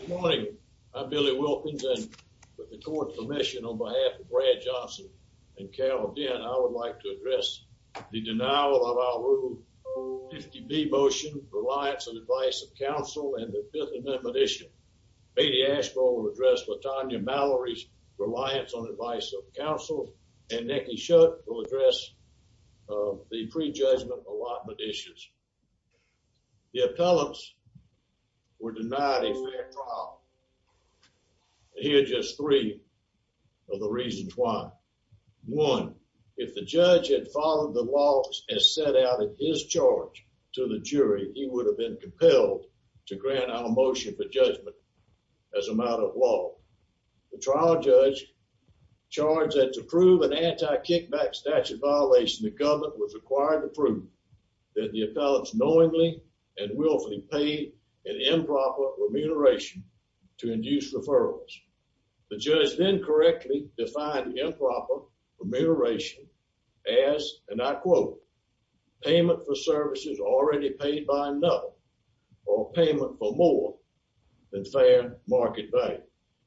Good morning. I'm Billy Wilkins and with the court's permission on behalf of Brad Johnson and Carol Dinn, I would like to address the denial of our Rule 50B motion, Reliance on Advice of Counsel, and the Fifth Amendment issue. Beatty Asheville will address Latonya Mallory's Reliance on Advice of Counsel, and Nicky Shutt will address the pre-judgment allotment issues. The appellants were denied a fair trial. Here are just three of the reasons why. One, if the judge had followed the laws as set out in his charge to the jury, he would have been compelled to grant our motion for judgment as a matter of law. The trial judge charged that to prove an anti-kickback statute violation, the government was required to prove that the appellants knowingly and willfully paid an improper remuneration to induce referrals. The judge then correctly defined improper remuneration as, and I quote, payment for services already paid by another or payment for more than fair market value.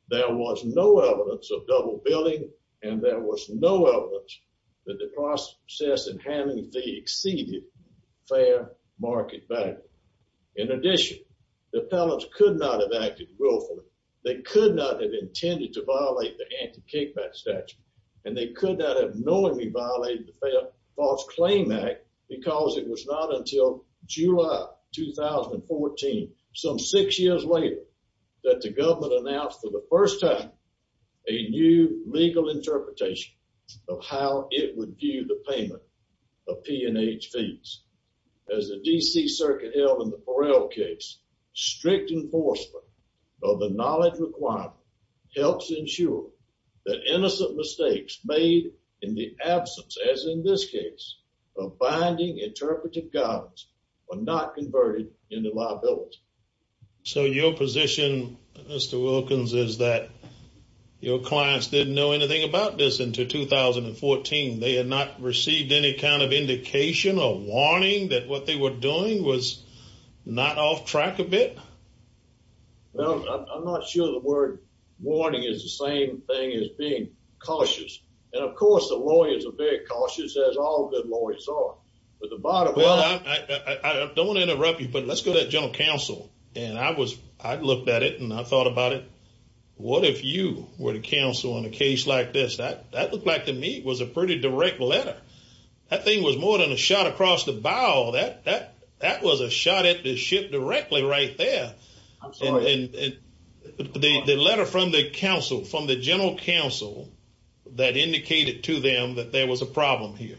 There was no evidence of double billing, and there was no evidence that the process in handling the fee exceeded fair market value. In addition, the appellants could not have acted willfully. They could not have intended to violate the anti-kickback statute, and they could not have knowingly violated the False Claim Act because it was not until July 2014, some six years later, that the government announced for the first time a new legal interpretation of how it would view the payment of P&H fees. As the D.C. Circuit held in the Farrell case, strict enforcement of the knowledge requirement helps ensure that innocent mistakes made in the absence, as in this case, of finding interpretive guidance are not converted into liability. So your position, Mr. Wilkins, is that your clients didn't know anything about this until 2014. They had not received any kind of indication or warning that what they were doing was not off track a bit? Well, I'm not sure the word warning is the same thing as being cautious. And of course, the lawyers are very cautious, as all good lawyers are. Well, I don't want to interrupt you, but let's go to the General Counsel. And I looked at it, and I thought about it. What if you were the counsel in a case like this? That looked like to me was a pretty direct letter. That thing was more than a shot across the bow. That was a shot at the ship directly right there. I'm sorry. The letter from the counsel, from the General Counsel that indicated to them that there was a problem here.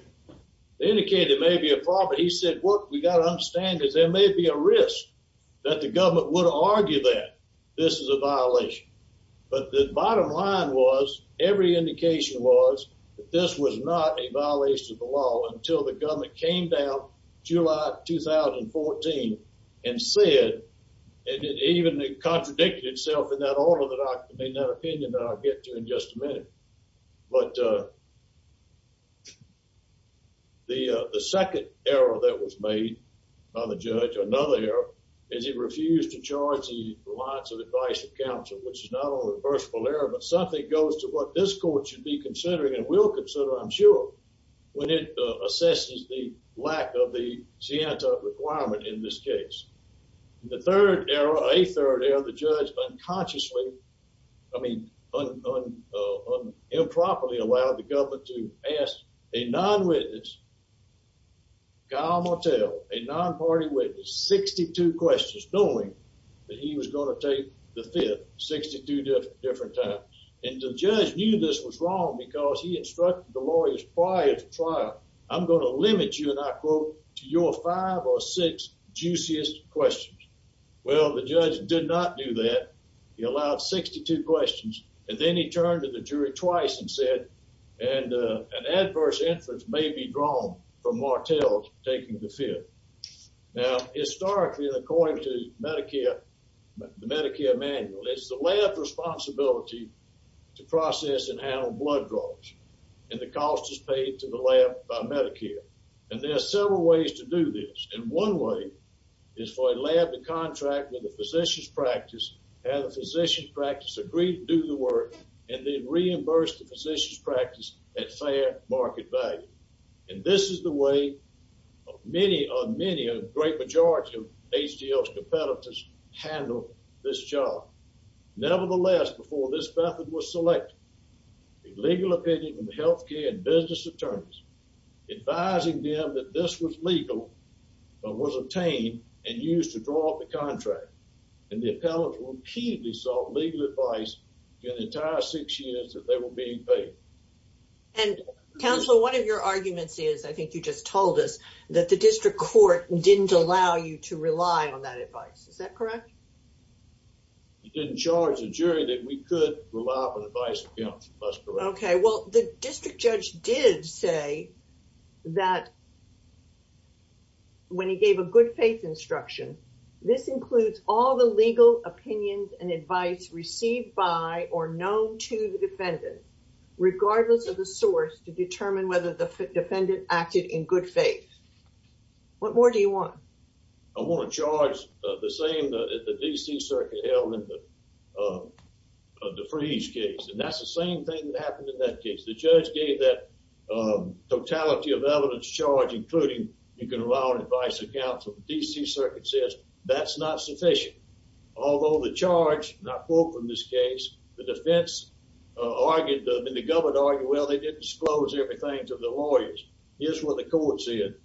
They indicated there may be a problem. He said, what we got to understand is there may be a risk that the government would argue that this is a violation. But the bottom line was, every indication was, that this was not a violation of the law until the government came down July 2014 and said, and it even contradicted itself in that order, in that opinion that I'll get to in just a minute. But the second error that was made by the judge, or another error, is he refused to charge the reliance of advice of counsel, which is not only a versatile error, but something goes to what this court should be considering and will consider, I'm sure, when it assesses the lack of the scienta requirement in this case. The third error, a third error, the judge unconsciously, I mean, improperly allowed the government to ask a non-witness, Kyle Martell, a non-party witness, 62 questions, knowing that he was going to take the fifth, 62 different times. And the judge knew this was wrong because he instructed the lawyers prior to trial, I'm going to limit you, and I quote, to your five or six juiciest questions. Well, the judge did not do that. He allowed 62 questions, and then he turned to the jury twice and said, an adverse inference may be drawn from Martell taking the fifth. Now, historically, according to the Medicare manual, it's the lab's responsibility to process and handle blood draws, and the cost is paid to the lab by Medicare. And there are several ways to do this, and one way is for a lab to contract with a physician's practice, have the physician's practice agree to do the work, and then reimburse the physician's practice at fair market value. And this is the way many, a great majority of HGL's competitors handle this job. Nevertheless, before this method was selected, the legal opinion from the healthcare and business attorneys advising them that this was legal but was obtained and used to draw up the contract, and the appellants repeatedly sought legal advice for the entire six years that they were being paid. And, counsel, one of your arguments is, I think you just told us, that the district court didn't allow you to rely on that advice. Is that correct? It didn't charge the jury that we could rely on advice. Okay, well, the district judge did say that when he gave a good faith instruction, this includes all the legal opinions and advice received by or known to the defendant, regardless of the source, to determine whether the defendant acted in good faith. What more do you want? I want to charge the same that the D.C. Circuit held in the Freeze case. And that's the same thing that happened in that case. The judge gave that totality of evidence charge, including you can rely on advice or counsel. The D.C. Circuit says that's not sufficient. Although the charge, and I quote from this case, the defense argued, and the government argued, well, they didn't disclose everything to the lawyers. Here's what the court said.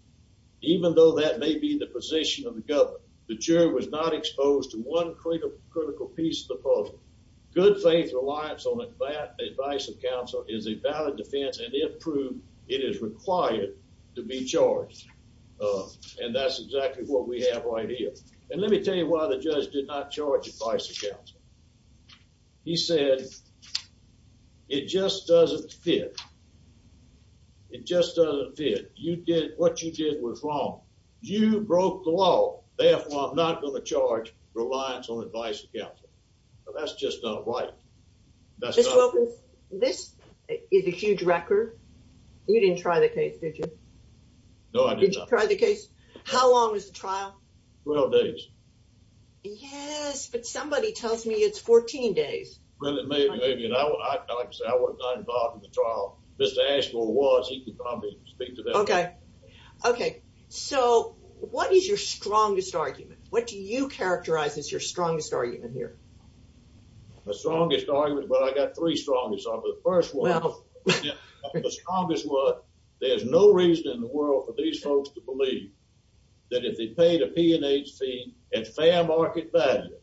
Even though that may be the position of the government, the jury was not exposed to one critical piece of the puzzle. Good faith reliance on advice or counsel is a valid defense, and it proved it is required to be charged. And that's exactly what we have right here. And let me tell you why the judge did not charge advice or counsel. He said, it just doesn't fit. It just doesn't fit. What you did was wrong. You broke the law. Therefore, I'm not going to charge reliance on advice or counsel. That's just not right. Mr. Wilkins, this is a huge record. You didn't try the case, did you? No, I did not. Did you try the case? How long was the trial? 12 days. Yes, but somebody tells me it's 14 days. Well, maybe, maybe. And like I said, I was not involved in the trial. Mr. Ashmore was. He could probably speak to that. Okay. Okay. So what is your strongest argument? What do you characterize as your strongest argument here? My strongest argument, well, I got three strongest arguments. The first one, the strongest one, there's no reason in the world for these folks to believe that if they paid a P&H fee at fair market value,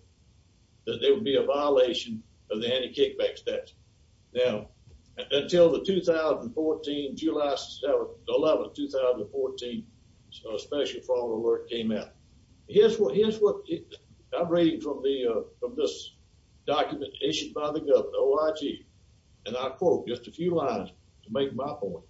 that there would be a violation of the anti-kickback statute. Now, until the 2014, July 11, 2014 Special Fraud Alert came out. Here's what I'm reading from this document issued by the government, OIG, and I quote just a few lines to make my point.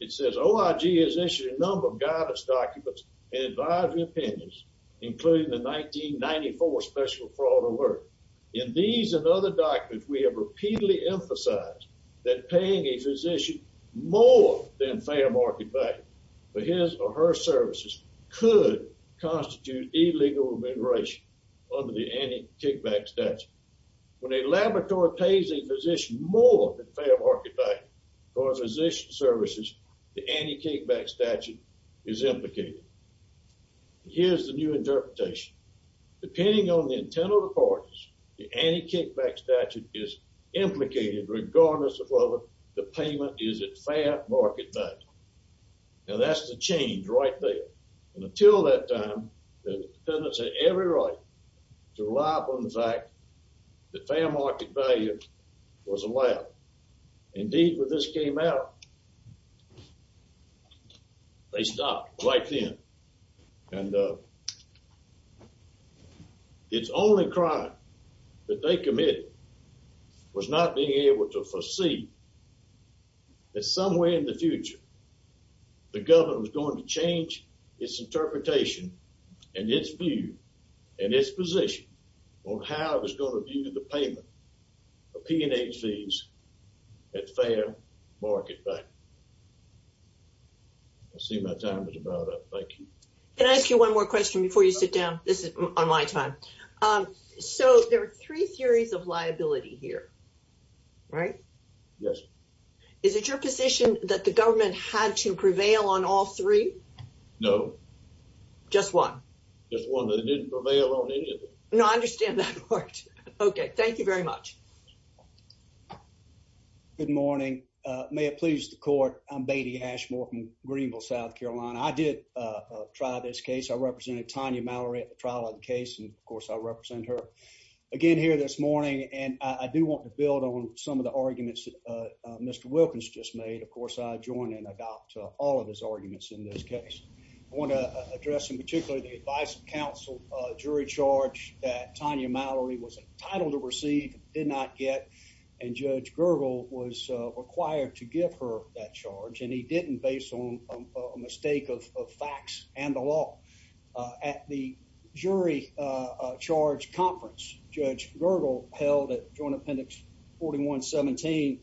It says, OIG has issued a number of guidance documents and advisory opinions, including the 1994 Special Fraud Alert. In these and other documents, we have repeatedly emphasized that paying a physician more than fair market value for his or her services could constitute illegal immigration under the anti-kickback statute. When a laboratory pays a physician more than fair market value for a physician's services, the anti-kickback statute is implicated. Here's the new interpretation. Depending on the intent of the parties, the anti-kickback statute is implicated regardless of whether the payment is at fair market value. Now, that's the change right there. And until that time, the dependents had every right to rely upon the fact that fair market value was allowed. Indeed, when this came out, they stopped right then. And it's only crime that they committed was not being able to foresee that somewhere in the future, the government was going to change its interpretation and its view and its position on how it was going to view the payment of P&H fees at fair market value. I see my time is about up. Thank you. Can I ask you one more question before you sit down? This is on my time. So there are three theories of liability here, right? Yes. Is it your position that the government had to prevail on all three? No, just one. Just one that it didn't prevail on any of them. No, I understand that part. Okay. Thank you very much. jury charge that Tanya Mallory was entitled to receive, did not get, and Judge Gergel was required to give her that charge, and he didn't based on a mistake of facts and the law. At the jury charge conference, Judge Gergel held at Joint Appendix 41-17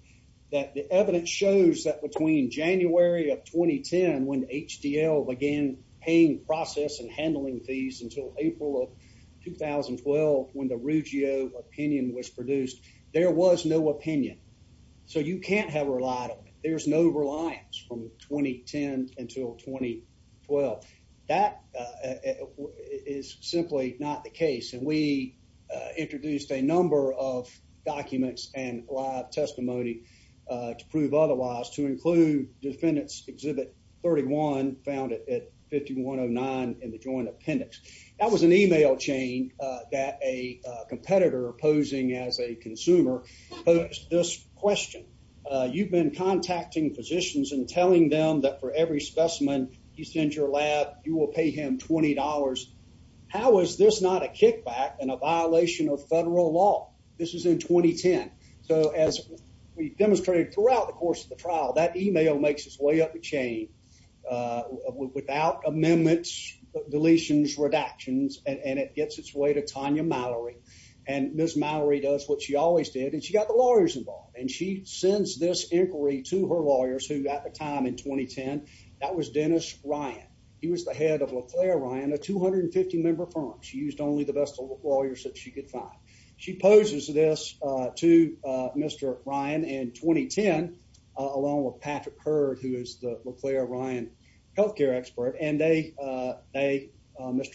that the evidence shows that between January of 2010 when HDL began paying process and handling fees until April of 2012 when the Ruggio opinion was produced, there was no opinion. So you can't have reliability. There's no reliance from 2010 until 2012. That is simply not the case, and we introduced a number of documents and live testimony to prove otherwise to include defendants exhibit 31 found at 5109 in the Joint Appendix. That was an email chain that a competitor posing as a consumer posed this question. You've been contacting physicians and telling them that for every specimen you send your lab, you will pay him $20. How is this not a kickback and a violation of federal law? This is in 2010. So as we demonstrated throughout the course of the trial, that email makes its way up the chain without amendments, deletions, redactions, and it gets its way to Tanya Mallory, and Ms. Mallory does what she always did, and she got the lawyers involved, and she sends this inquiry to her lawyers who at the time in 2010, that was Dennis Ryan. He was the head of LeClaire Ryan, a 250-member firm. She used only the best lawyers that she could find. She poses this to Mr. Ryan in 2010 along with Patrick Hurd, who is the LeClaire Ryan health care expert, and Mr.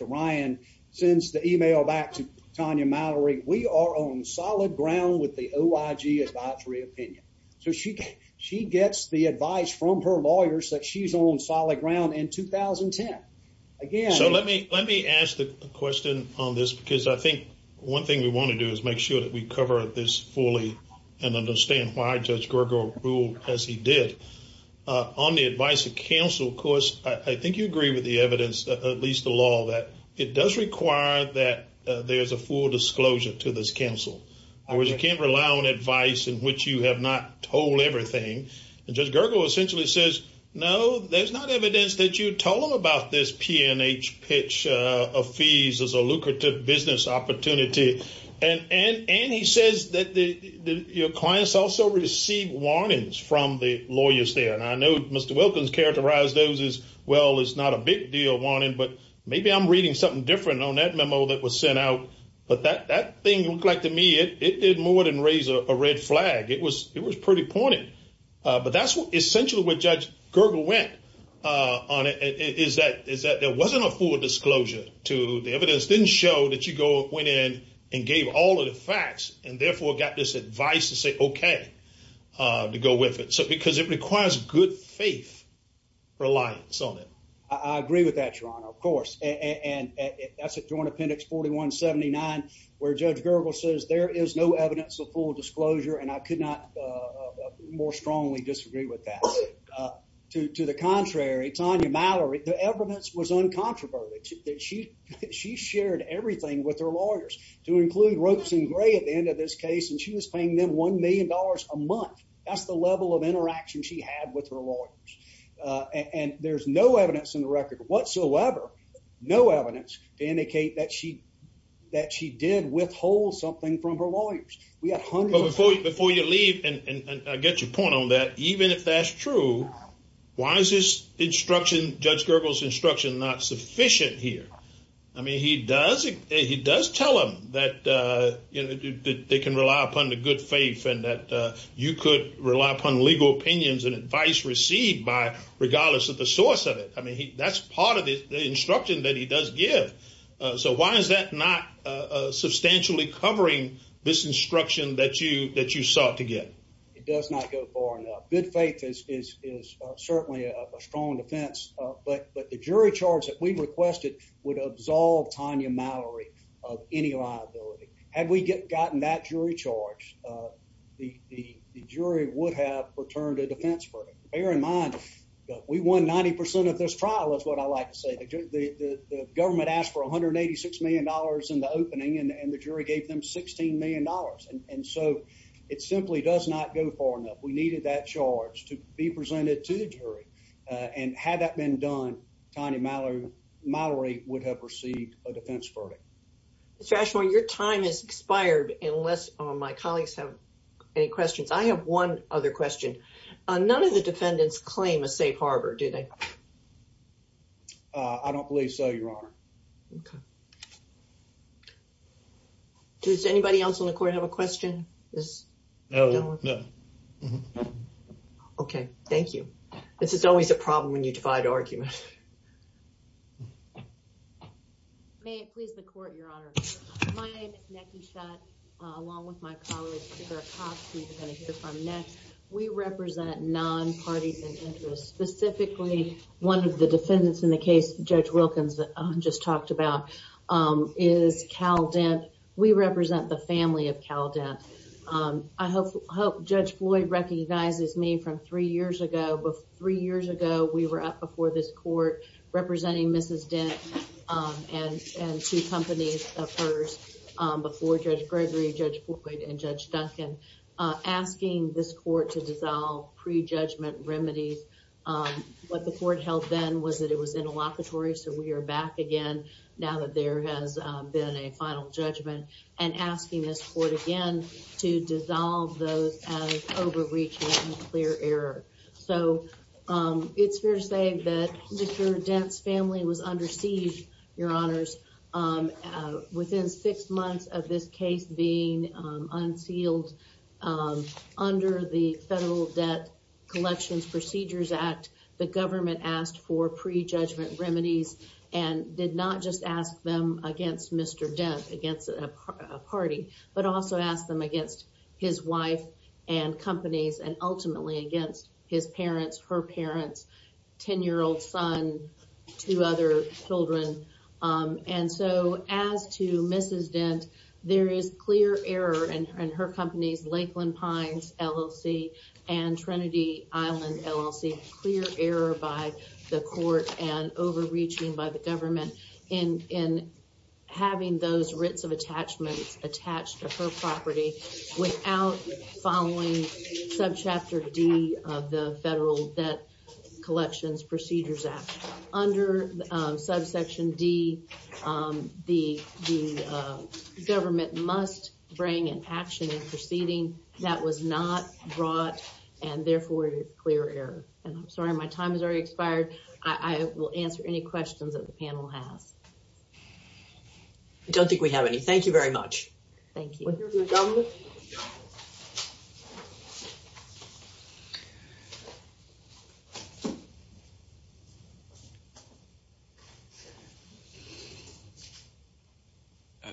Ryan sends the email back to Tanya Mallory. We are on solid ground with the OIG advisory opinion. So she gets the advice from her lawyers that she's on solid ground in 2010. Again— Let me ask the question on this because I think one thing we want to do is make sure that we cover this fully and understand why Judge Gergel ruled as he did. On the advice of counsel, of course, I think you agree with the evidence, at least the law, that it does require that there is a full disclosure to this counsel. In other words, you can't rely on advice in which you have not told everything, and Judge Gergel essentially says, no, there's not evidence that you told them about this P&H pitch of fees as a lucrative business opportunity, and he says that your clients also receive warnings from the lawyers there. And I know Mr. Wilkins characterized those as, well, it's not a big deal warning, but maybe I'm reading something different on that memo that was sent out. But that thing looked like to me it did more than raise a red flag. It was pretty pointed. But that's essentially where Judge Gergel went on it, is that there wasn't a full disclosure to the evidence. It just didn't show that you went in and gave all of the facts and therefore got this advice to say, okay, to go with it. Because it requires good faith reliance on it. I agree with that, Your Honor, of course. And that's at Joint Appendix 4179, where Judge Gergel says there is no evidence of full disclosure, and I could not more strongly disagree with that. To the contrary, Tanya Mallory, the evidence was uncontroverted. She shared everything with her lawyers, to include Ropes and Gray at the end of this case, and she was paying them $1 million a month. That's the level of interaction she had with her lawyers. And there's no evidence in the record whatsoever, no evidence, to indicate that she did withhold something from her lawyers. But before you leave, and I get your point on that, even if that's true, why is this instruction, Judge Gergel's instruction, not sufficient here? I mean, he does tell them that they can rely upon the good faith and that you could rely upon legal opinions and advice received by, regardless of the source of it. I mean, that's part of the instruction that he does give. So why is that not substantially covering this instruction that you sought to get? It does not go far enough. Good faith is certainly a strong defense, but the jury charge that we requested would absolve Tanya Mallory of any liability. Had we gotten that jury charge, the jury would have returned a defense verdict. Bear in mind, we won 90% of this trial, is what I like to say. The government asked for $186 million in the opening, and the jury gave them $16 million. And so it simply does not go far enough. We needed that charge to be presented to the jury. And had that been done, Tanya Mallory would have received a defense verdict. Mr. Ashmore, your time has expired unless my colleagues have any questions. I have one other question. None of the defendants claim a safe harbor, do they? I don't believe so, Your Honor. Does anybody else on the court have a question? No. Okay, thank you. This is always a problem when you divide argument. May it please the court, Your Honor. My name is Nettie Schott, along with my colleagues, we represent non-parties and interests. Specifically, one of the defendants in the case Judge Wilkins just talked about is Cal Dent. We represent the family of Cal Dent. I hope Judge Floyd recognizes me from three years ago. Three years ago, we were up before this court representing Mrs. Dent and two companies of hers, before Judge Gregory, Judge Floyd, and Judge Duncan, asking this court to dissolve pre-judgment remedies. What the court held then was that it was interlocutory, so we are back again now that there has been a final judgment, and asking this court again to dissolve those as overreach and clear error. So, it's fair to say that Mr. Dent's family was under siege, Your Honors. Within six months of this case being unsealed under the Federal Debt Collections Procedures Act, the government asked for pre-judgment remedies and did not just ask them against Mr. Dent, against a party, but also asked them against his wife and companies, and ultimately against his parents, her parents, 10-year-old son, two other children. And so, as to Mrs. Dent, there is clear error in her companies, Lakeland Pines LLC and Trinity Island LLC, clear error by the court and overreaching by the government in having those writs of attachments attached to her property without following subchapter D of the Federal Debt Collections Procedures Act. Under subsection D, the government must bring an action in proceeding that was not brought, and therefore, clear error. And I'm sorry, my time has already expired. I will answer any questions that the panel has. I don't think we have any. Thank you very much. Thank you. Thank you.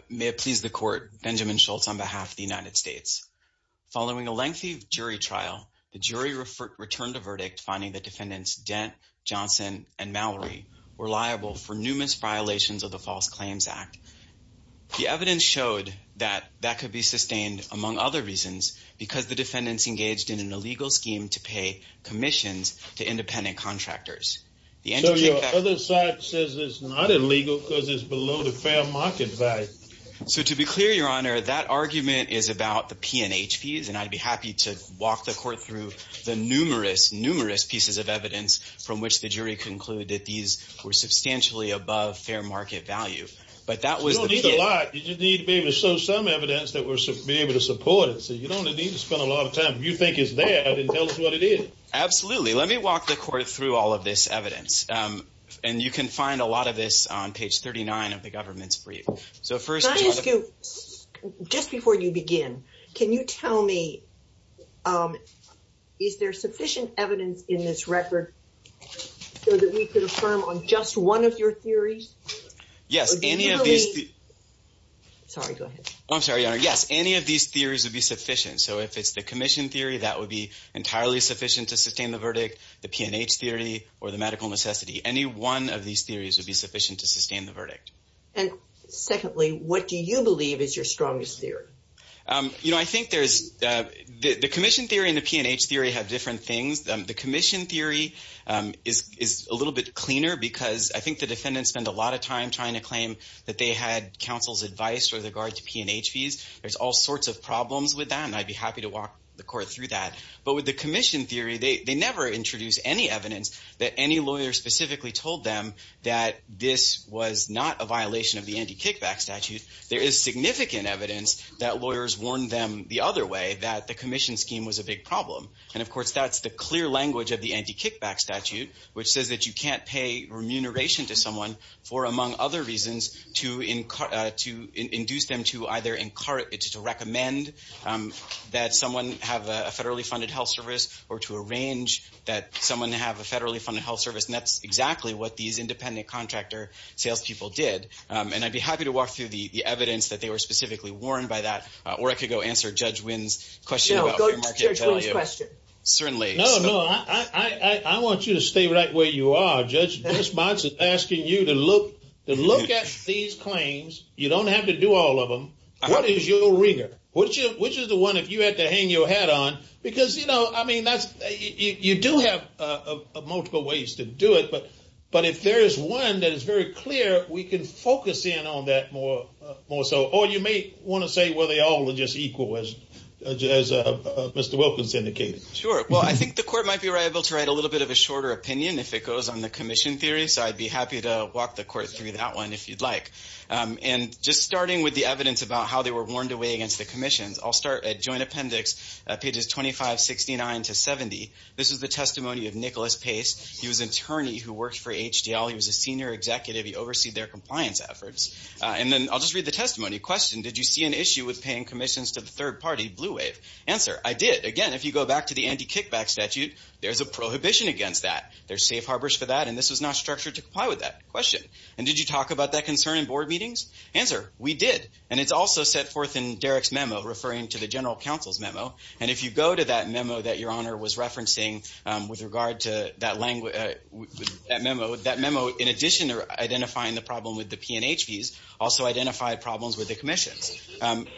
May it please the court, Benjamin Schultz on behalf of the United States. Following a lengthy jury trial, the jury returned a verdict finding that defendants Dent, Johnson, and Mallory were liable for numerous violations of the False Claims Act. The evidence showed that that could be sustained, among other reasons, because the defendants engaged in an illegal scheme to pay commissions to independent contractors. So your other side says it's not illegal because it's below the fair market value. So to be clear, Your Honor, that argument is about the P&H fees, and I'd be happy to walk the court through the numerous, numerous pieces of evidence from which the jury concluded that these were substantially above fair market value. But that was the beginning. You don't need a lot. You just need to be able to show some evidence that we're able to support it. So you don't need to spend a lot of time. If you think it's there, then tell us what it is. Absolutely. Let me walk the court through all of this evidence. And you can find a lot of this on page 39 of the government's brief. So first, can I ask you, just before you begin, can you tell me, is there sufficient evidence in this record so that we could affirm on just one of your theories? Yes. Any of these theories would be sufficient. So if it's the commission theory, that would be entirely sufficient to sustain the verdict, the P&H theory, or the medical necessity. Any one of these theories would be sufficient to sustain the verdict. And secondly, what do you believe is your strongest theory? You know, I think the commission theory and the P&H theory have different things. The commission theory is a little bit cleaner because I think the defendants spend a lot of time trying to claim that they had counsel's advice with regard to P&H fees. There's all sorts of problems with that, and I'd be happy to walk the court through that. But with the commission theory, they never introduce any evidence that any lawyer specifically told them that this was not a violation of the anti-kickback statute. There is significant evidence that lawyers warned them the other way, that the commission scheme was a big problem. And, of course, that's the clear language of the anti-kickback statute, which says that you can't pay remuneration to someone for, among other reasons, to induce them to either recommend that someone have a federally funded health service or to arrange that someone have a federally funded health service. And that's exactly what these independent contractor salespeople did. And I'd be happy to walk through the evidence that they were specifically warned by that, or I could go answer Judge Wynn's question about free market value. Certainly. No, no. I want you to stay right where you are. Judge, Ms. Monson is asking you to look at these claims. You don't have to do all of them. What is your rigor? Which is the one that you have to hang your hat on? Because, you know, I mean, you do have multiple ways to do it, but if there is one that is very clear, we can focus in on that more so. Or you may want to say, well, they all are just equal, as Mr. Wilkins indicated. Sure. Well, I think the court might be able to write a little bit of a shorter opinion if it goes on the commission theory, so I'd be happy to walk the court through that one if you'd like. And just starting with the evidence about how they were warned away against the commissions, I'll start at joint appendix pages 2569 to 70. This is the testimony of Nicholas Pace. He was an attorney who worked for HDL. He was a senior executive. He oversees their compliance efforts. And then I'll just read the testimony. Question, did you see an issue with paying commissions to the third party, Blue Wave? Answer, I did. Again, if you go back to the anti-kickback statute, there's a prohibition against that. There's safe harbors for that, and this was not structured to comply with that. Question, and did you talk about that concern in board meetings? Answer, we did. And it's also set forth in Derek's memo referring to the general counsel's memo. And if you go to that memo that Your Honor was referencing with regard to that memo, that memo, in addition to identifying the problem with the P&H fees, also identified problems with the commissions.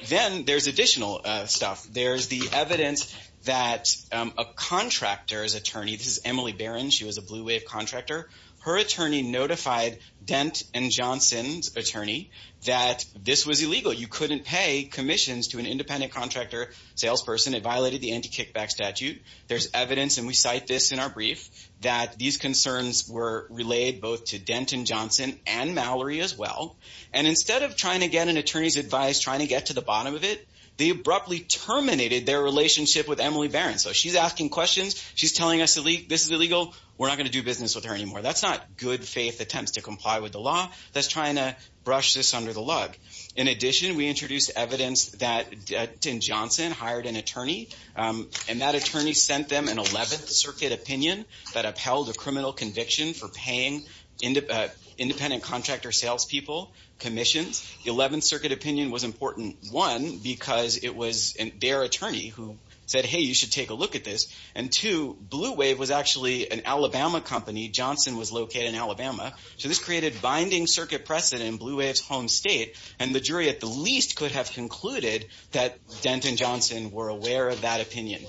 Then there's additional stuff. There's the evidence that a contractor's attorney, this is Emily Barron. She was a Blue Wave contractor. Her attorney notified Dent and Johnson's attorney that this was illegal. You couldn't pay commissions to an independent contractor salesperson. It violated the anti-kickback statute. There's evidence, and we cite this in our brief, that these concerns were relayed both to Dent and Johnson and Mallory as well. And instead of trying to get an attorney's advice, trying to get to the bottom of it, they abruptly terminated their relationship with Emily Barron. So she's asking questions. She's telling us this is illegal. We're not going to do business with her anymore. That's not good faith attempts to comply with the law. That's trying to brush this under the lug. In addition, we introduced evidence that Dent and Johnson hired an attorney, and that attorney sent them an 11th Circuit opinion that upheld a criminal conviction for paying independent contractor salespeople commissions. The 11th Circuit opinion was important, one, because it was their attorney who said, hey, you should take a look at this, and two, Blue Wave was actually an Alabama company. Johnson was located in Alabama. So this created binding circuit precedent in Blue Wave's home state, and the jury at the least could have concluded that Dent and Johnson were aware of that opinion.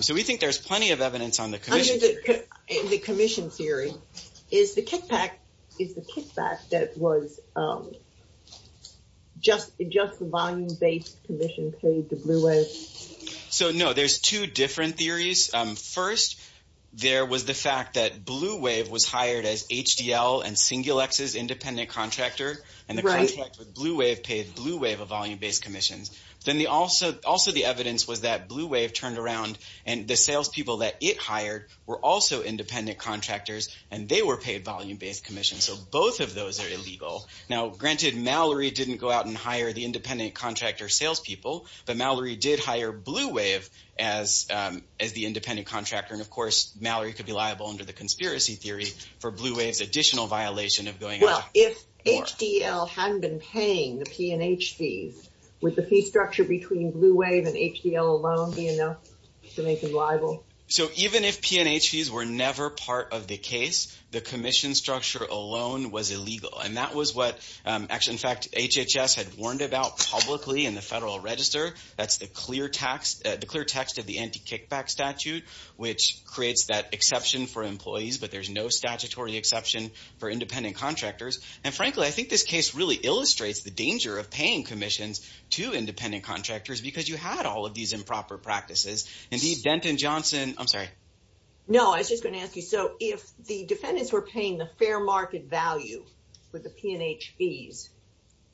So we think there's plenty of evidence on the commission. Under the commission theory, is the kickback that was just the volume-based commission paid to Blue Wave? So, no, there's two different theories. First, there was the fact that Blue Wave was hired as HDL and Singulex's independent contractor, and the contract with Blue Wave paid Blue Wave a volume-based commission. Then also the evidence was that Blue Wave turned around, and the salespeople that it hired were also independent contractors, and they were paid volume-based commissions. So both of those are illegal. Now, granted, Mallory didn't go out and hire the independent contractor salespeople, but Mallory did hire Blue Wave as the independent contractor, and, of course, Mallory could be liable under the conspiracy theory for Blue Wave's additional violation of going out. If HDL hadn't been paying the P&H fees, would the fee structure between Blue Wave and HDL alone be enough to make them liable? So even if P&H fees were never part of the case, the commission structure alone was illegal, and that was what, in fact, HHS had warned about publicly in the Federal Register. That's the clear text of the anti-kickback statute, which creates that exception for employees, but there's no statutory exception for independent contractors. And, frankly, I think this case really illustrates the danger of paying commissions to independent contractors because you had all of these improper practices. Indeed, Denton Johnson—I'm sorry. No, I was just going to ask you. So if the defendants were paying the fair market value with the P&H fees,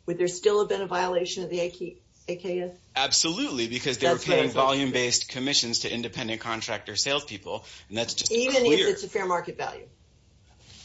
would there still have been a violation of the AKS? Absolutely, because they were paying volume-based commissions to independent contractor salespeople, and that's just clear. Even if it's a fair market value?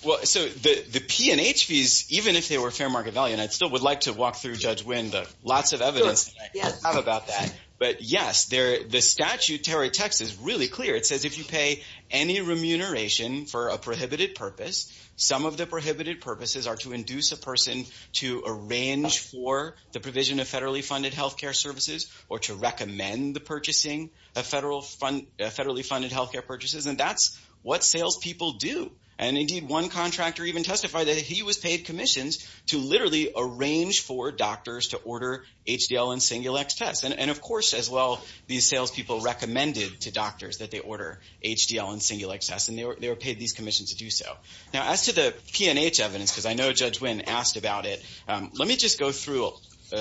Well, so the P&H fees, even if they were fair market value, and I still would like to walk through Judge Wynn, but lots of evidence I have about that. But, yes, the statute, Terry, text is really clear. It says if you pay any remuneration for a prohibited purpose, some of the prohibited purposes are to induce a person to arrange for the provision of federally funded health care services or to recommend the purchasing of federally funded health care purchases, and that's what salespeople do. And, indeed, one contractor even testified that he was paid commissions to literally arrange for doctors to order HDL and Singulex tests. And, of course, as well, these salespeople recommended to doctors that they order HDL and Singulex tests, and they were paid these commissions to do so. Now, as to the P&H evidence, because I know Judge Wynn asked about it, let me just go through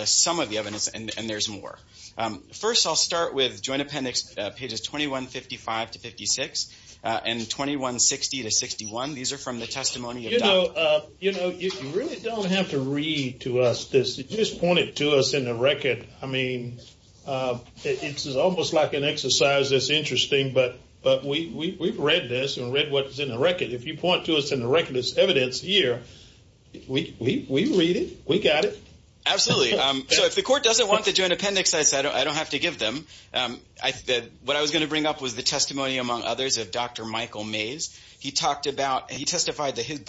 some of the evidence, and there's more. First, I'll start with Joint Appendix pages 2155 to 56 and 2160 to 61. These are from the testimony of Dr. You know, you really don't have to read to us this. You just point it to us in the record. I mean, it's almost like an exercise that's interesting, but we've read this and read what's in the record. If you point to us in the record as evidence here, we read it, we got it. Absolutely. So if the court doesn't want the Joint Appendix, I don't have to give them. What I was going to bring up was the testimony, among others, of Dr. Michael Mays. He talked about and he testified that his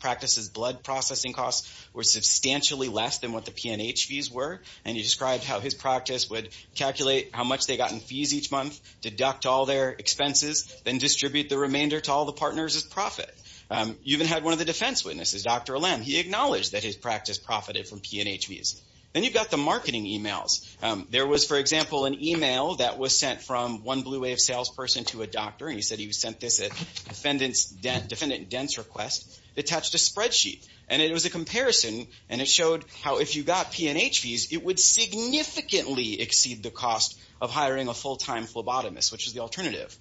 practice's blood processing costs were substantially less than what the P&H fees were, and he described how his practice would calculate how much they got in fees each month, deduct all their expenses, then distribute the remainder to all the partners as profit. You even had one of the defense witnesses, Dr. Lem, he acknowledged that his practice profited from P&H fees. Then you've got the marketing emails. There was, for example, an email that was sent from one Blue Wave salesperson to a doctor, and he said he sent this at defendant's dense request. It touched a spreadsheet, and it was a comparison, and it showed how if you got P&H fees, it would significantly exceed the cost of hiring a full-time phlebotomist, which is the alternative.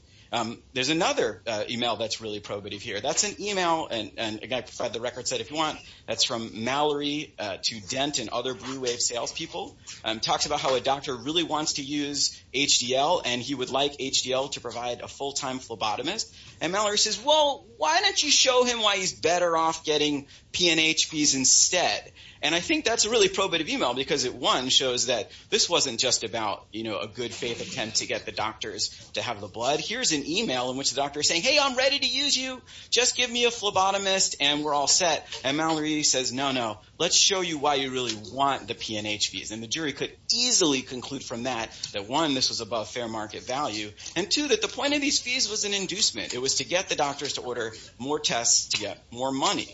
There's another email that's really probative here. That's an email, and again, I provide the record set if you want. That's from Mallory to Dent and other Blue Wave salespeople. It talks about how a doctor really wants to use HDL, and he would like HDL to provide a full-time phlebotomist. And Mallory says, well, why don't you show him why he's better off getting P&H fees instead? And I think that's a really probative email because it, one, shows that this wasn't just about, you know, a good faith attempt to get the doctors to have the blood. Here's an email in which the doctor is saying, hey, I'm ready to use you. Just give me a phlebotomist, and we're all set. And Mallory says, no, no, let's show you why you really want the P&H fees. And the jury could easily conclude from that that, one, this was above fair market value, and, two, that the point of these fees was an inducement. It was to get the doctors to order more tests to get more money.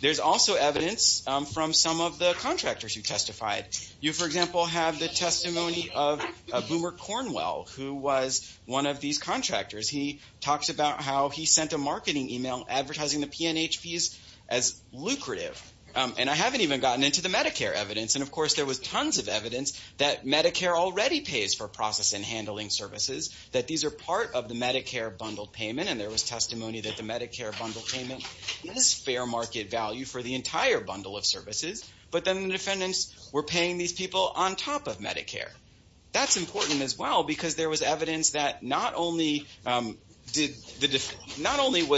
There's also evidence from some of the contractors who testified. You, for example, have the testimony of Boomer Cornwell, who was one of these contractors. He talks about how he sent a marketing email advertising the P&H fees as lucrative. And I haven't even gotten into the Medicare evidence. And, of course, there was tons of evidence that Medicare already pays for process and handling services, that these are part of the Medicare bundled payment, and there was testimony that the Medicare bundled payment is fair market value for the entire bundle of services, but then the defendants were paying these people on top of Medicare. That's important as well because there was evidence that not only was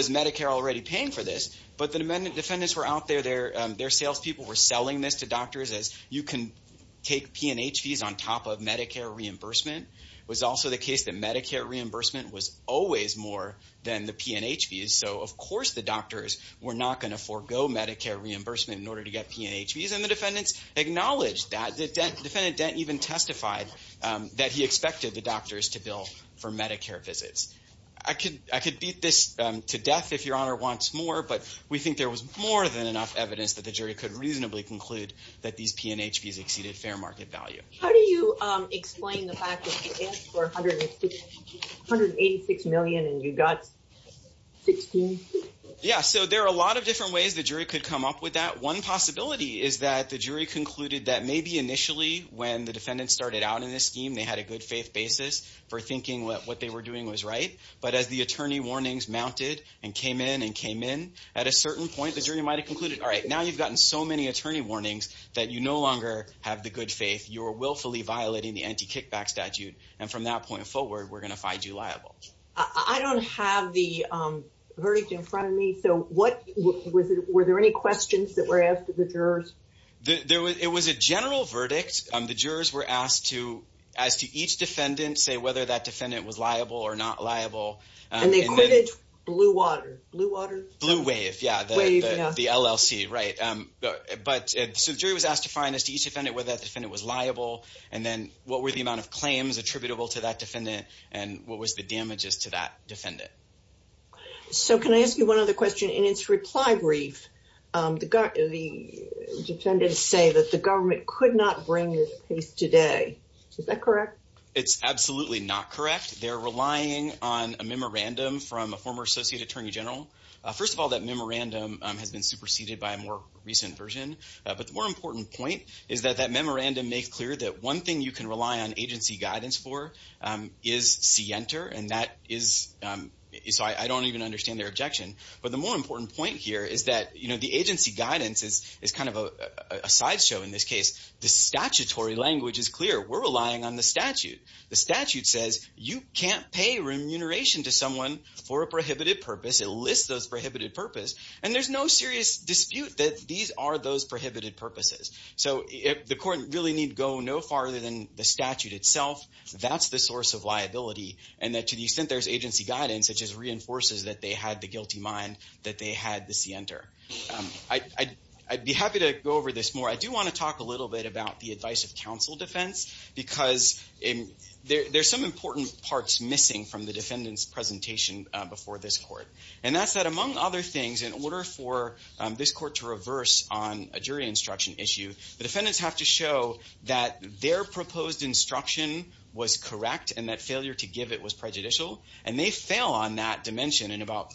Medicare already paying for this, but the defendants were out there, their salespeople were selling this to doctors as, you can take P&H fees on top of Medicare reimbursement. It was also the case that Medicare reimbursement was always more than the P&H fees. So, of course, the doctors were not going to forego Medicare reimbursement in order to get P&H fees, and the defendants acknowledged that. Defendant Dent even testified that he expected the doctors to bill for Medicare visits. I could beat this to death if Your Honor wants more, but we think there was more than enough evidence that the jury could reasonably conclude that these P&H fees exceeded fair market value. How do you explain the fact that you asked for $186 million and you got $16 million? Yeah, so there are a lot of different ways the jury could come up with that. One possibility is that the jury concluded that maybe initially when the defendants started out in this scheme, they had a good faith basis for thinking what they were doing was right, but as the attorney warnings mounted and came in and came in, at a certain point the jury might have concluded, all right, now you've gotten so many attorney warnings that you no longer have the good faith. You're willfully violating the anti-kickback statute, and from that point forward, we're going to find you liable. I don't have the verdict in front of me, so were there any questions that were asked of the jurors? It was a general verdict. The jurors were asked to, as to each defendant, say whether that defendant was liable or not liable. And they quitted Blue Water. Blue Wave, yeah, the LLC, right. So the jury was asked to find, as to each defendant, whether that defendant was liable, and then what were the amount of claims attributable to that defendant, and what was the damages to that defendant. So can I ask you one other question? In its reply brief, the defendants say that the government could not bring this case today. Is that correct? It's absolutely not correct. They're relying on a memorandum from a former associate attorney general. First of all, that memorandum has been superseded by a more recent version. But the more important point is that that memorandum makes clear that one thing you can rely on agency guidance for is C-Enter, and that is, so I don't even understand their objection. But the more important point here is that, you know, the agency guidance is kind of a sideshow in this case. The statutory language is clear. We're relying on the statute. The statute says you can't pay remuneration to someone for a prohibited purpose. It lists those prohibited purposes, and there's no serious dispute that these are those prohibited purposes. So the court really need go no farther than the statute itself. That's the source of liability, and that to the extent there's agency guidance, it just reinforces that they had the guilty mind, that they had the C-Enter. I'd be happy to go over this more. I do want to talk a little bit about the advice of counsel defense, because there's some important parts missing from the defendant's presentation before this court, and that's that among other things, in order for this court to reverse on a jury instruction issue, the defendants have to show that their proposed instruction was correct and that failure to give it was prejudicial, and they fail on that dimension in about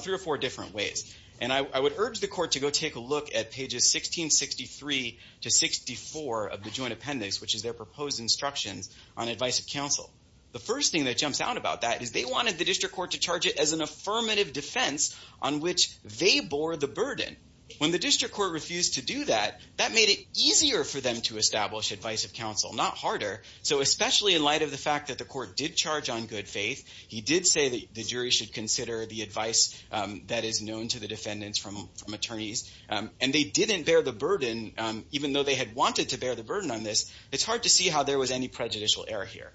three or four different ways. And I would urge the court to go take a look at pages 1663 to 64 of the joint appendix, which is their proposed instructions on advice of counsel. The first thing that jumps out about that is they wanted the district court to charge it as an affirmative defense on which they bore the burden. When the district court refused to do that, that made it easier for them to establish advice of counsel, not harder. So especially in light of the fact that the court did charge on good faith, he did say that the jury should consider the advice that is known to the defendants from attorneys, and they didn't bear the burden, even though they had wanted to bear the burden on this. It's hard to see how there was any prejudicial error here.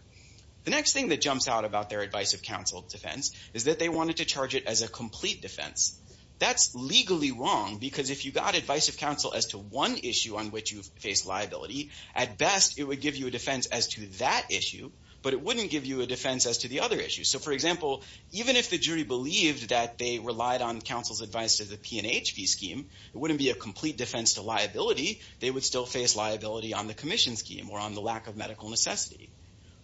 The next thing that jumps out about their advice of counsel defense is that they wanted to charge it as a complete defense. That's legally wrong, because if you got advice of counsel as to one issue on which you face liability, at best it would give you a defense as to that issue, but it wouldn't give you a defense as to the other issues. So, for example, even if the jury believed that they relied on counsel's advice to the PNHP scheme, it wouldn't be a complete defense to liability. They would still face liability on the commission scheme or on the lack of medical necessity.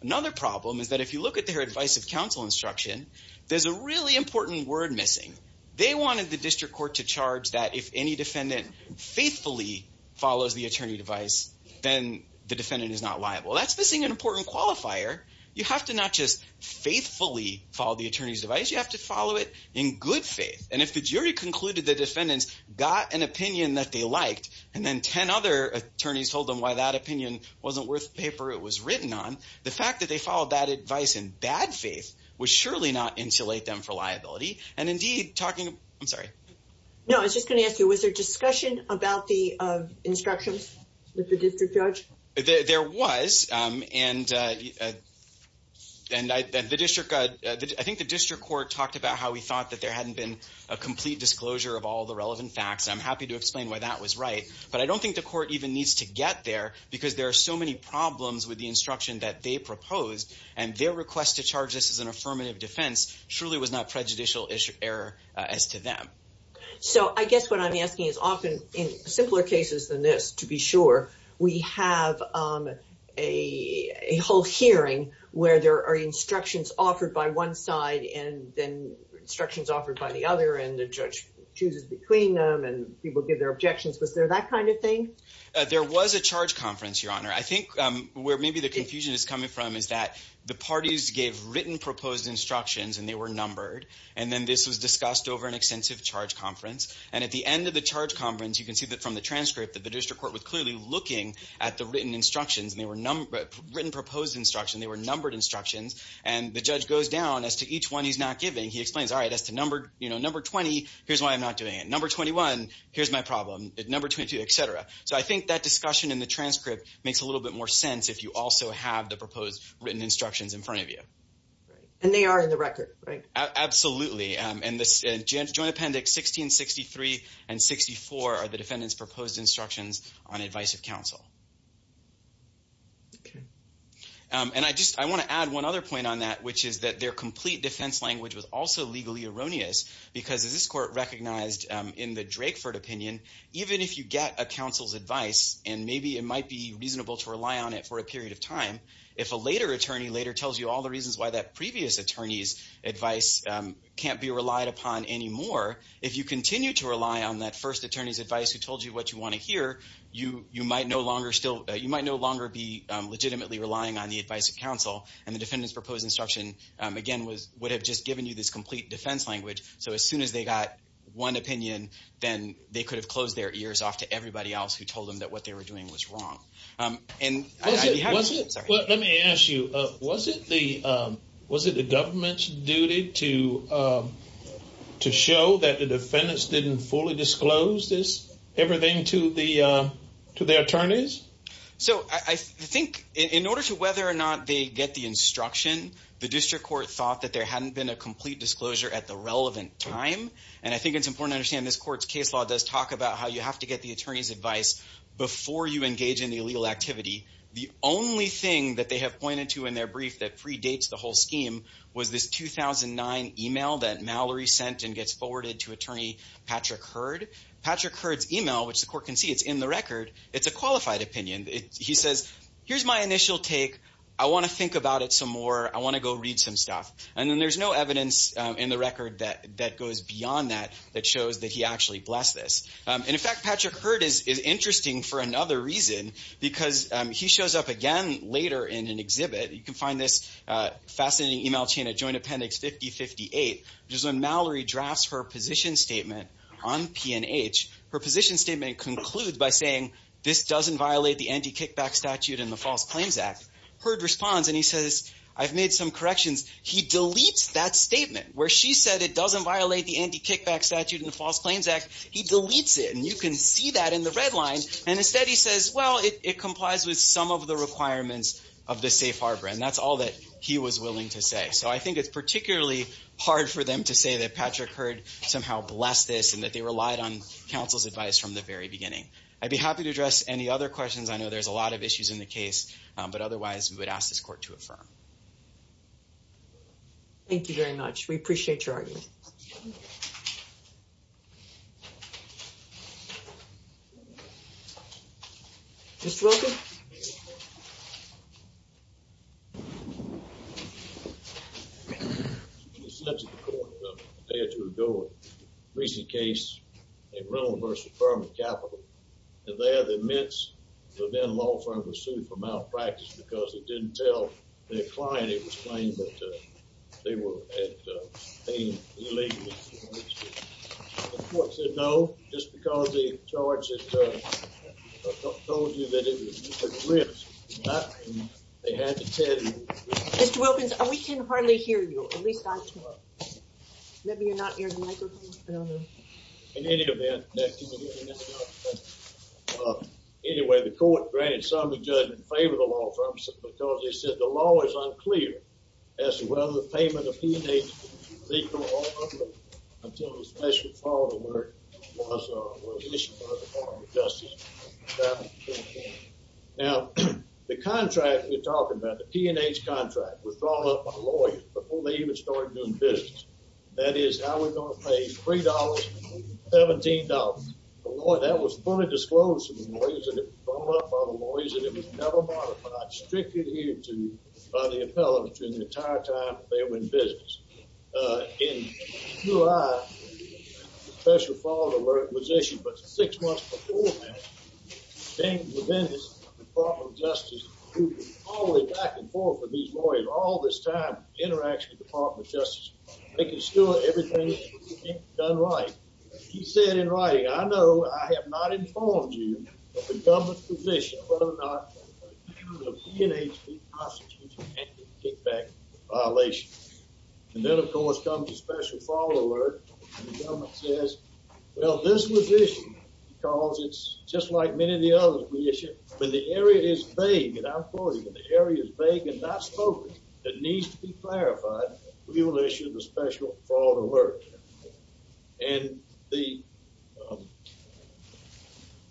Another problem is that if you look at their advice of counsel instruction, there's a really important word missing. They wanted the district court to charge that if any defendant faithfully follows the attorney's advice, then the defendant is not liable. That's missing an important qualifier. You have to not just faithfully follow the attorney's advice. You have to follow it in good faith, and if the jury concluded the defendants got an opinion that they liked and then 10 other attorneys told them why that opinion wasn't worth the paper it was written on, the fact that they followed that advice in bad faith would surely not insulate them for liability, and indeed talking, I'm sorry. No, I was just going to ask you, was there discussion about the instructions with the district judge? There was, and I think the district court talked about how we thought that there hadn't been a complete disclosure of all the relevant facts. I'm happy to explain why that was right, but I don't think the court even needs to get there because there are so many problems with the instruction that they proposed, and their request to charge this as an affirmative defense surely was not prejudicial error as to them. So I guess what I'm asking is often in simpler cases than this, to be sure, we have a whole hearing where there are instructions offered by one side and then instructions offered by the other, and the judge chooses between them, and people give their objections. Was there that kind of thing? There was a charge conference, Your Honor. I think where maybe the confusion is coming from is that the parties gave written proposed instructions, and they were numbered, and then this was discussed over an extensive charge conference, and at the end of the charge conference, you can see that from the transcript that the district court was clearly looking at the written instructions, and they were written proposed instructions, and they were numbered instructions, and the judge goes down as to each one he's not giving. He explains, all right, as to number 20, here's why I'm not doing it. Number 21, here's my problem. Number 22, et cetera. So I think that discussion in the transcript makes a little bit more sense if you also have the proposed written instructions in front of you. And they are in the record, right? Absolutely, and the joint appendix 1663 and 64 are the defendant's proposed instructions on advice of counsel. And I want to add one other point on that, which is that their complete defense language was also legally erroneous because as this court recognized in the Drakeford opinion, even if you get a counsel's advice, and maybe it might be reasonable to rely on it for a period of time, if a later attorney later tells you all the reasons why that previous attorney's advice can't be relied upon anymore, if you continue to rely on that first attorney's advice who told you what you want to hear, you might no longer be legitimately relying on the advice of counsel, and the defendant's proposed instruction, again, would have just given you this complete defense language. So as soon as they got one opinion, then they could have closed their ears off to everybody else who told them that what they were doing was wrong. Let me ask you, was it the government's duty to show that the defendants didn't fully disclose everything to their attorneys? So I think in order to whether or not they get the instruction, the district court thought that there hadn't been a complete disclosure at the relevant time, and I think it's important to understand this court's case law does talk about how you have to get the attorney's advice before you engage in the illegal activity. The only thing that they have pointed to in their brief that predates the whole scheme was this 2009 email that Mallory sent and gets forwarded to Attorney Patrick Hurd. Patrick Hurd's email, which the court can see, it's in the record, it's a qualified opinion. He says, here's my initial take. I want to think about it some more. I want to go read some stuff. And then there's no evidence in the record that goes beyond that that shows that he actually blessed this. And, in fact, Patrick Hurd is interesting for another reason, because he shows up again later in an exhibit. You can find this fascinating email chain at Joint Appendix 5058, which is when Mallory drafts her position statement on P&H. Her position statement concludes by saying, this doesn't violate the Anti-Kickback Statute and the False Claims Act. Hurd responds, and he says, I've made some corrections. He deletes that statement where she said it doesn't violate the Anti-Kickback Statute and the False Claims Act. He deletes it, and you can see that in the red line. And instead he says, well, it complies with some of the requirements of the safe harbor, and that's all that he was willing to say. So I think it's particularly hard for them to say that Patrick Hurd somehow blessed this and that they relied on counsel's advice from the very beginning. I'd be happy to address any other questions. I know there's a lot of issues in the case, but otherwise we would ask this court to affirm. Thank you very much. We appreciate your argument. Mr. Wilkins? Mr. Wilkins? Since the court prepared to adjourn a recent case in Rome versus Burma Capital, and there the Mets, the then law firm, was sued for malpractice because it didn't tell their client it was claimed that they were being illegal. The court said no just because the charges told you that it was just a glimpse. They had to tell you. Mr. Wilkins, we can hardly hear you. At least I can. Maybe you're not hearing the microphone. In any event, anyway, the court granted some of the judgment in favor of the law firm because they said the law is unclear as to whether the payment of P&H was legal or not until a special follow-up was issued by the Department of Justice. Now, the contract we're talking about, the P&H contract, was drawn up by the lawyer before they even started doing business. That is how we're going to pay $3, $17. That was fully disclosed to the lawyers. It was drawn up by the lawyers, and it was never modified. It was strictly adhered to by the appellate during the entire time that they were in business. In July, the special follow-up alert was issued, but six months before that, the Department of Justice, all the way back and forth with these lawyers all this time, interacts with the Department of Justice making sure everything is done right. He said in writing, I know I have not informed you of the government's position whether or not the issue of P&H being prosecuted can be kicked back into violation. And then, of course, comes the special follow-up alert, and the government says, well, this was issued because it's just like many of the others we issued. When the area is vague, and I'm quoting, when the area is vague and not spoken that needs to be clarified, we will issue the special follow-up alert. And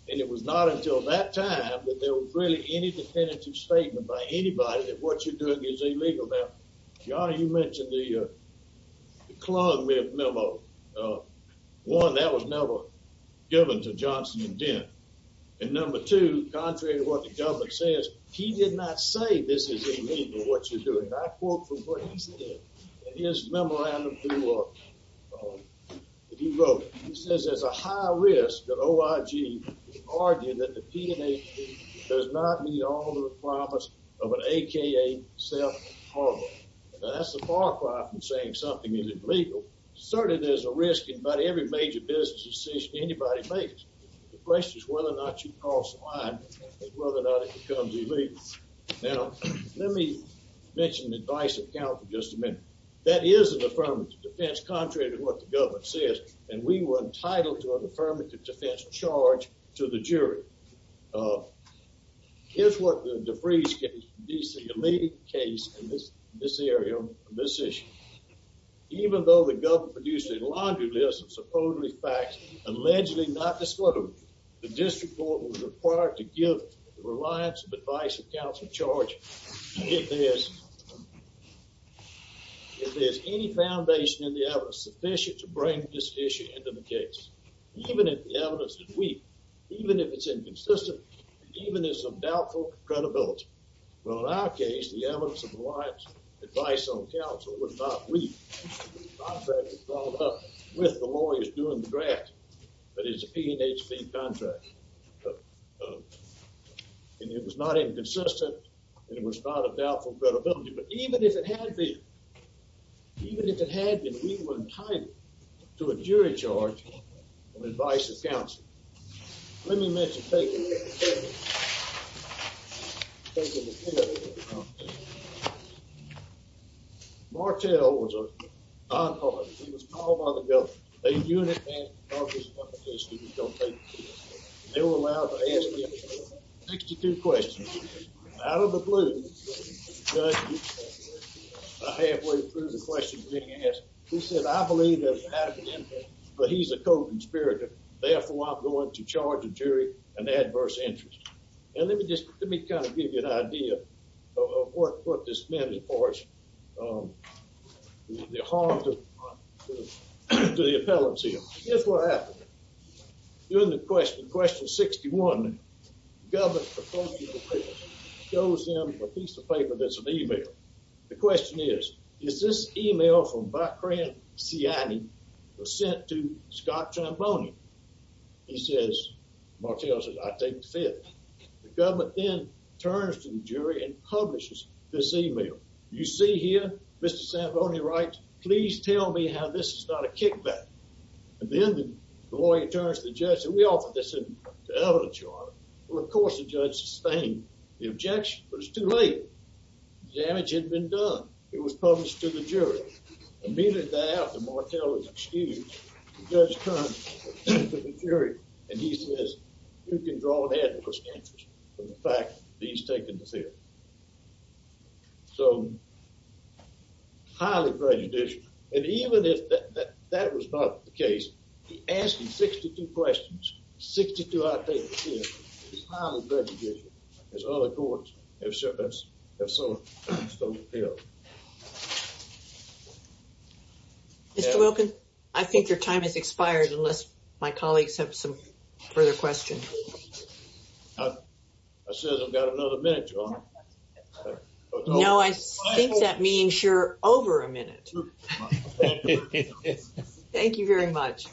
it was not until that time that there was really any definitive statement by anybody that what you're doing is illegal. Now, Your Honor, you mentioned the Klugman memo. One, that was never given to Johnson and Dent. And number two, contrary to what the government says, and I quote from what he said in his memorandum that he wrote, he says there's a high risk that OIG would argue that the P&H does not meet all the requirements of an AKA self-harbor. Now, that's a far cry from saying something isn't legal. Certainly, there's a risk in about every major business decision anybody makes. The question is whether or not you cross the line and whether or not it becomes illegal. Now, let me mention the advice of counsel just a minute. That is an affirmative defense contrary to what the government says, and we were entitled to an affirmative defense charge to the jury. Here's what the DeVries case, D.C. elite case in this area on this issue. Even though the government produced a laundry list of supposedly facts allegedly not disclosed, the district court was required to give the reliance of advice of counsel charge if there's any foundation in the evidence sufficient to bring this issue into the case, even if the evidence is weak, even if it's inconsistent, even if there's some doubtful credibility. Well, in our case, the evidence of reliance advice on counsel was not weak. The contract was brought up with the lawyers doing the drafting, but it's a PNHP contract, and it was not inconsistent, and it was not of doubtful credibility, but even if it had been, even if it had been, we were entitled to a jury charge on advice of counsel. Let me mention, take a look at this. Martel was a nonpartisan. He was called by the government. A unit man of his competition was going to take the case. They were allowed to ask him 62 questions. Out of the blue, the judge halfway through the questions being asked, he said, I believe there's an advocate in there, but he's a co-conspirator. Therefore, I'm going to charge the jury an adverse interest. And let me just kind of give you an idea of what this meant for us. The harm to the appellants here. Here's what happened. During the question, question 61, the government proposed the appeal. Shows them a piece of paper that's an email. The question is, is this email from Bacranciani was sent to Scott Tramboni? He says, Martel says, I take the fifth. The government then turns to the jury and publishes this email. You see here, Mr. Tramboni writes, please tell me how this is not a kickback. And then the lawyer turns to the judge and says, we offered this to evidence, Your Honor. Well, of course, the judge sustained the objection, but it's too late. The damage had been done. It was published to the jury. Immediately thereafter, Martel is excused. The judge turns to the jury, and he says, you can draw an advocate from the fact that he's taken the fifth. So highly prejudicial. And even if that was not the case, he's asking 62 questions. 62, I take the fifth. It's highly prejudicial, as other courts have so appealed. Mr. Wilkin, I think your time has expired, unless my colleagues have some further questions. I said I've got another minute, Your Honor. No, I think that means you're over a minute. Thank you very much.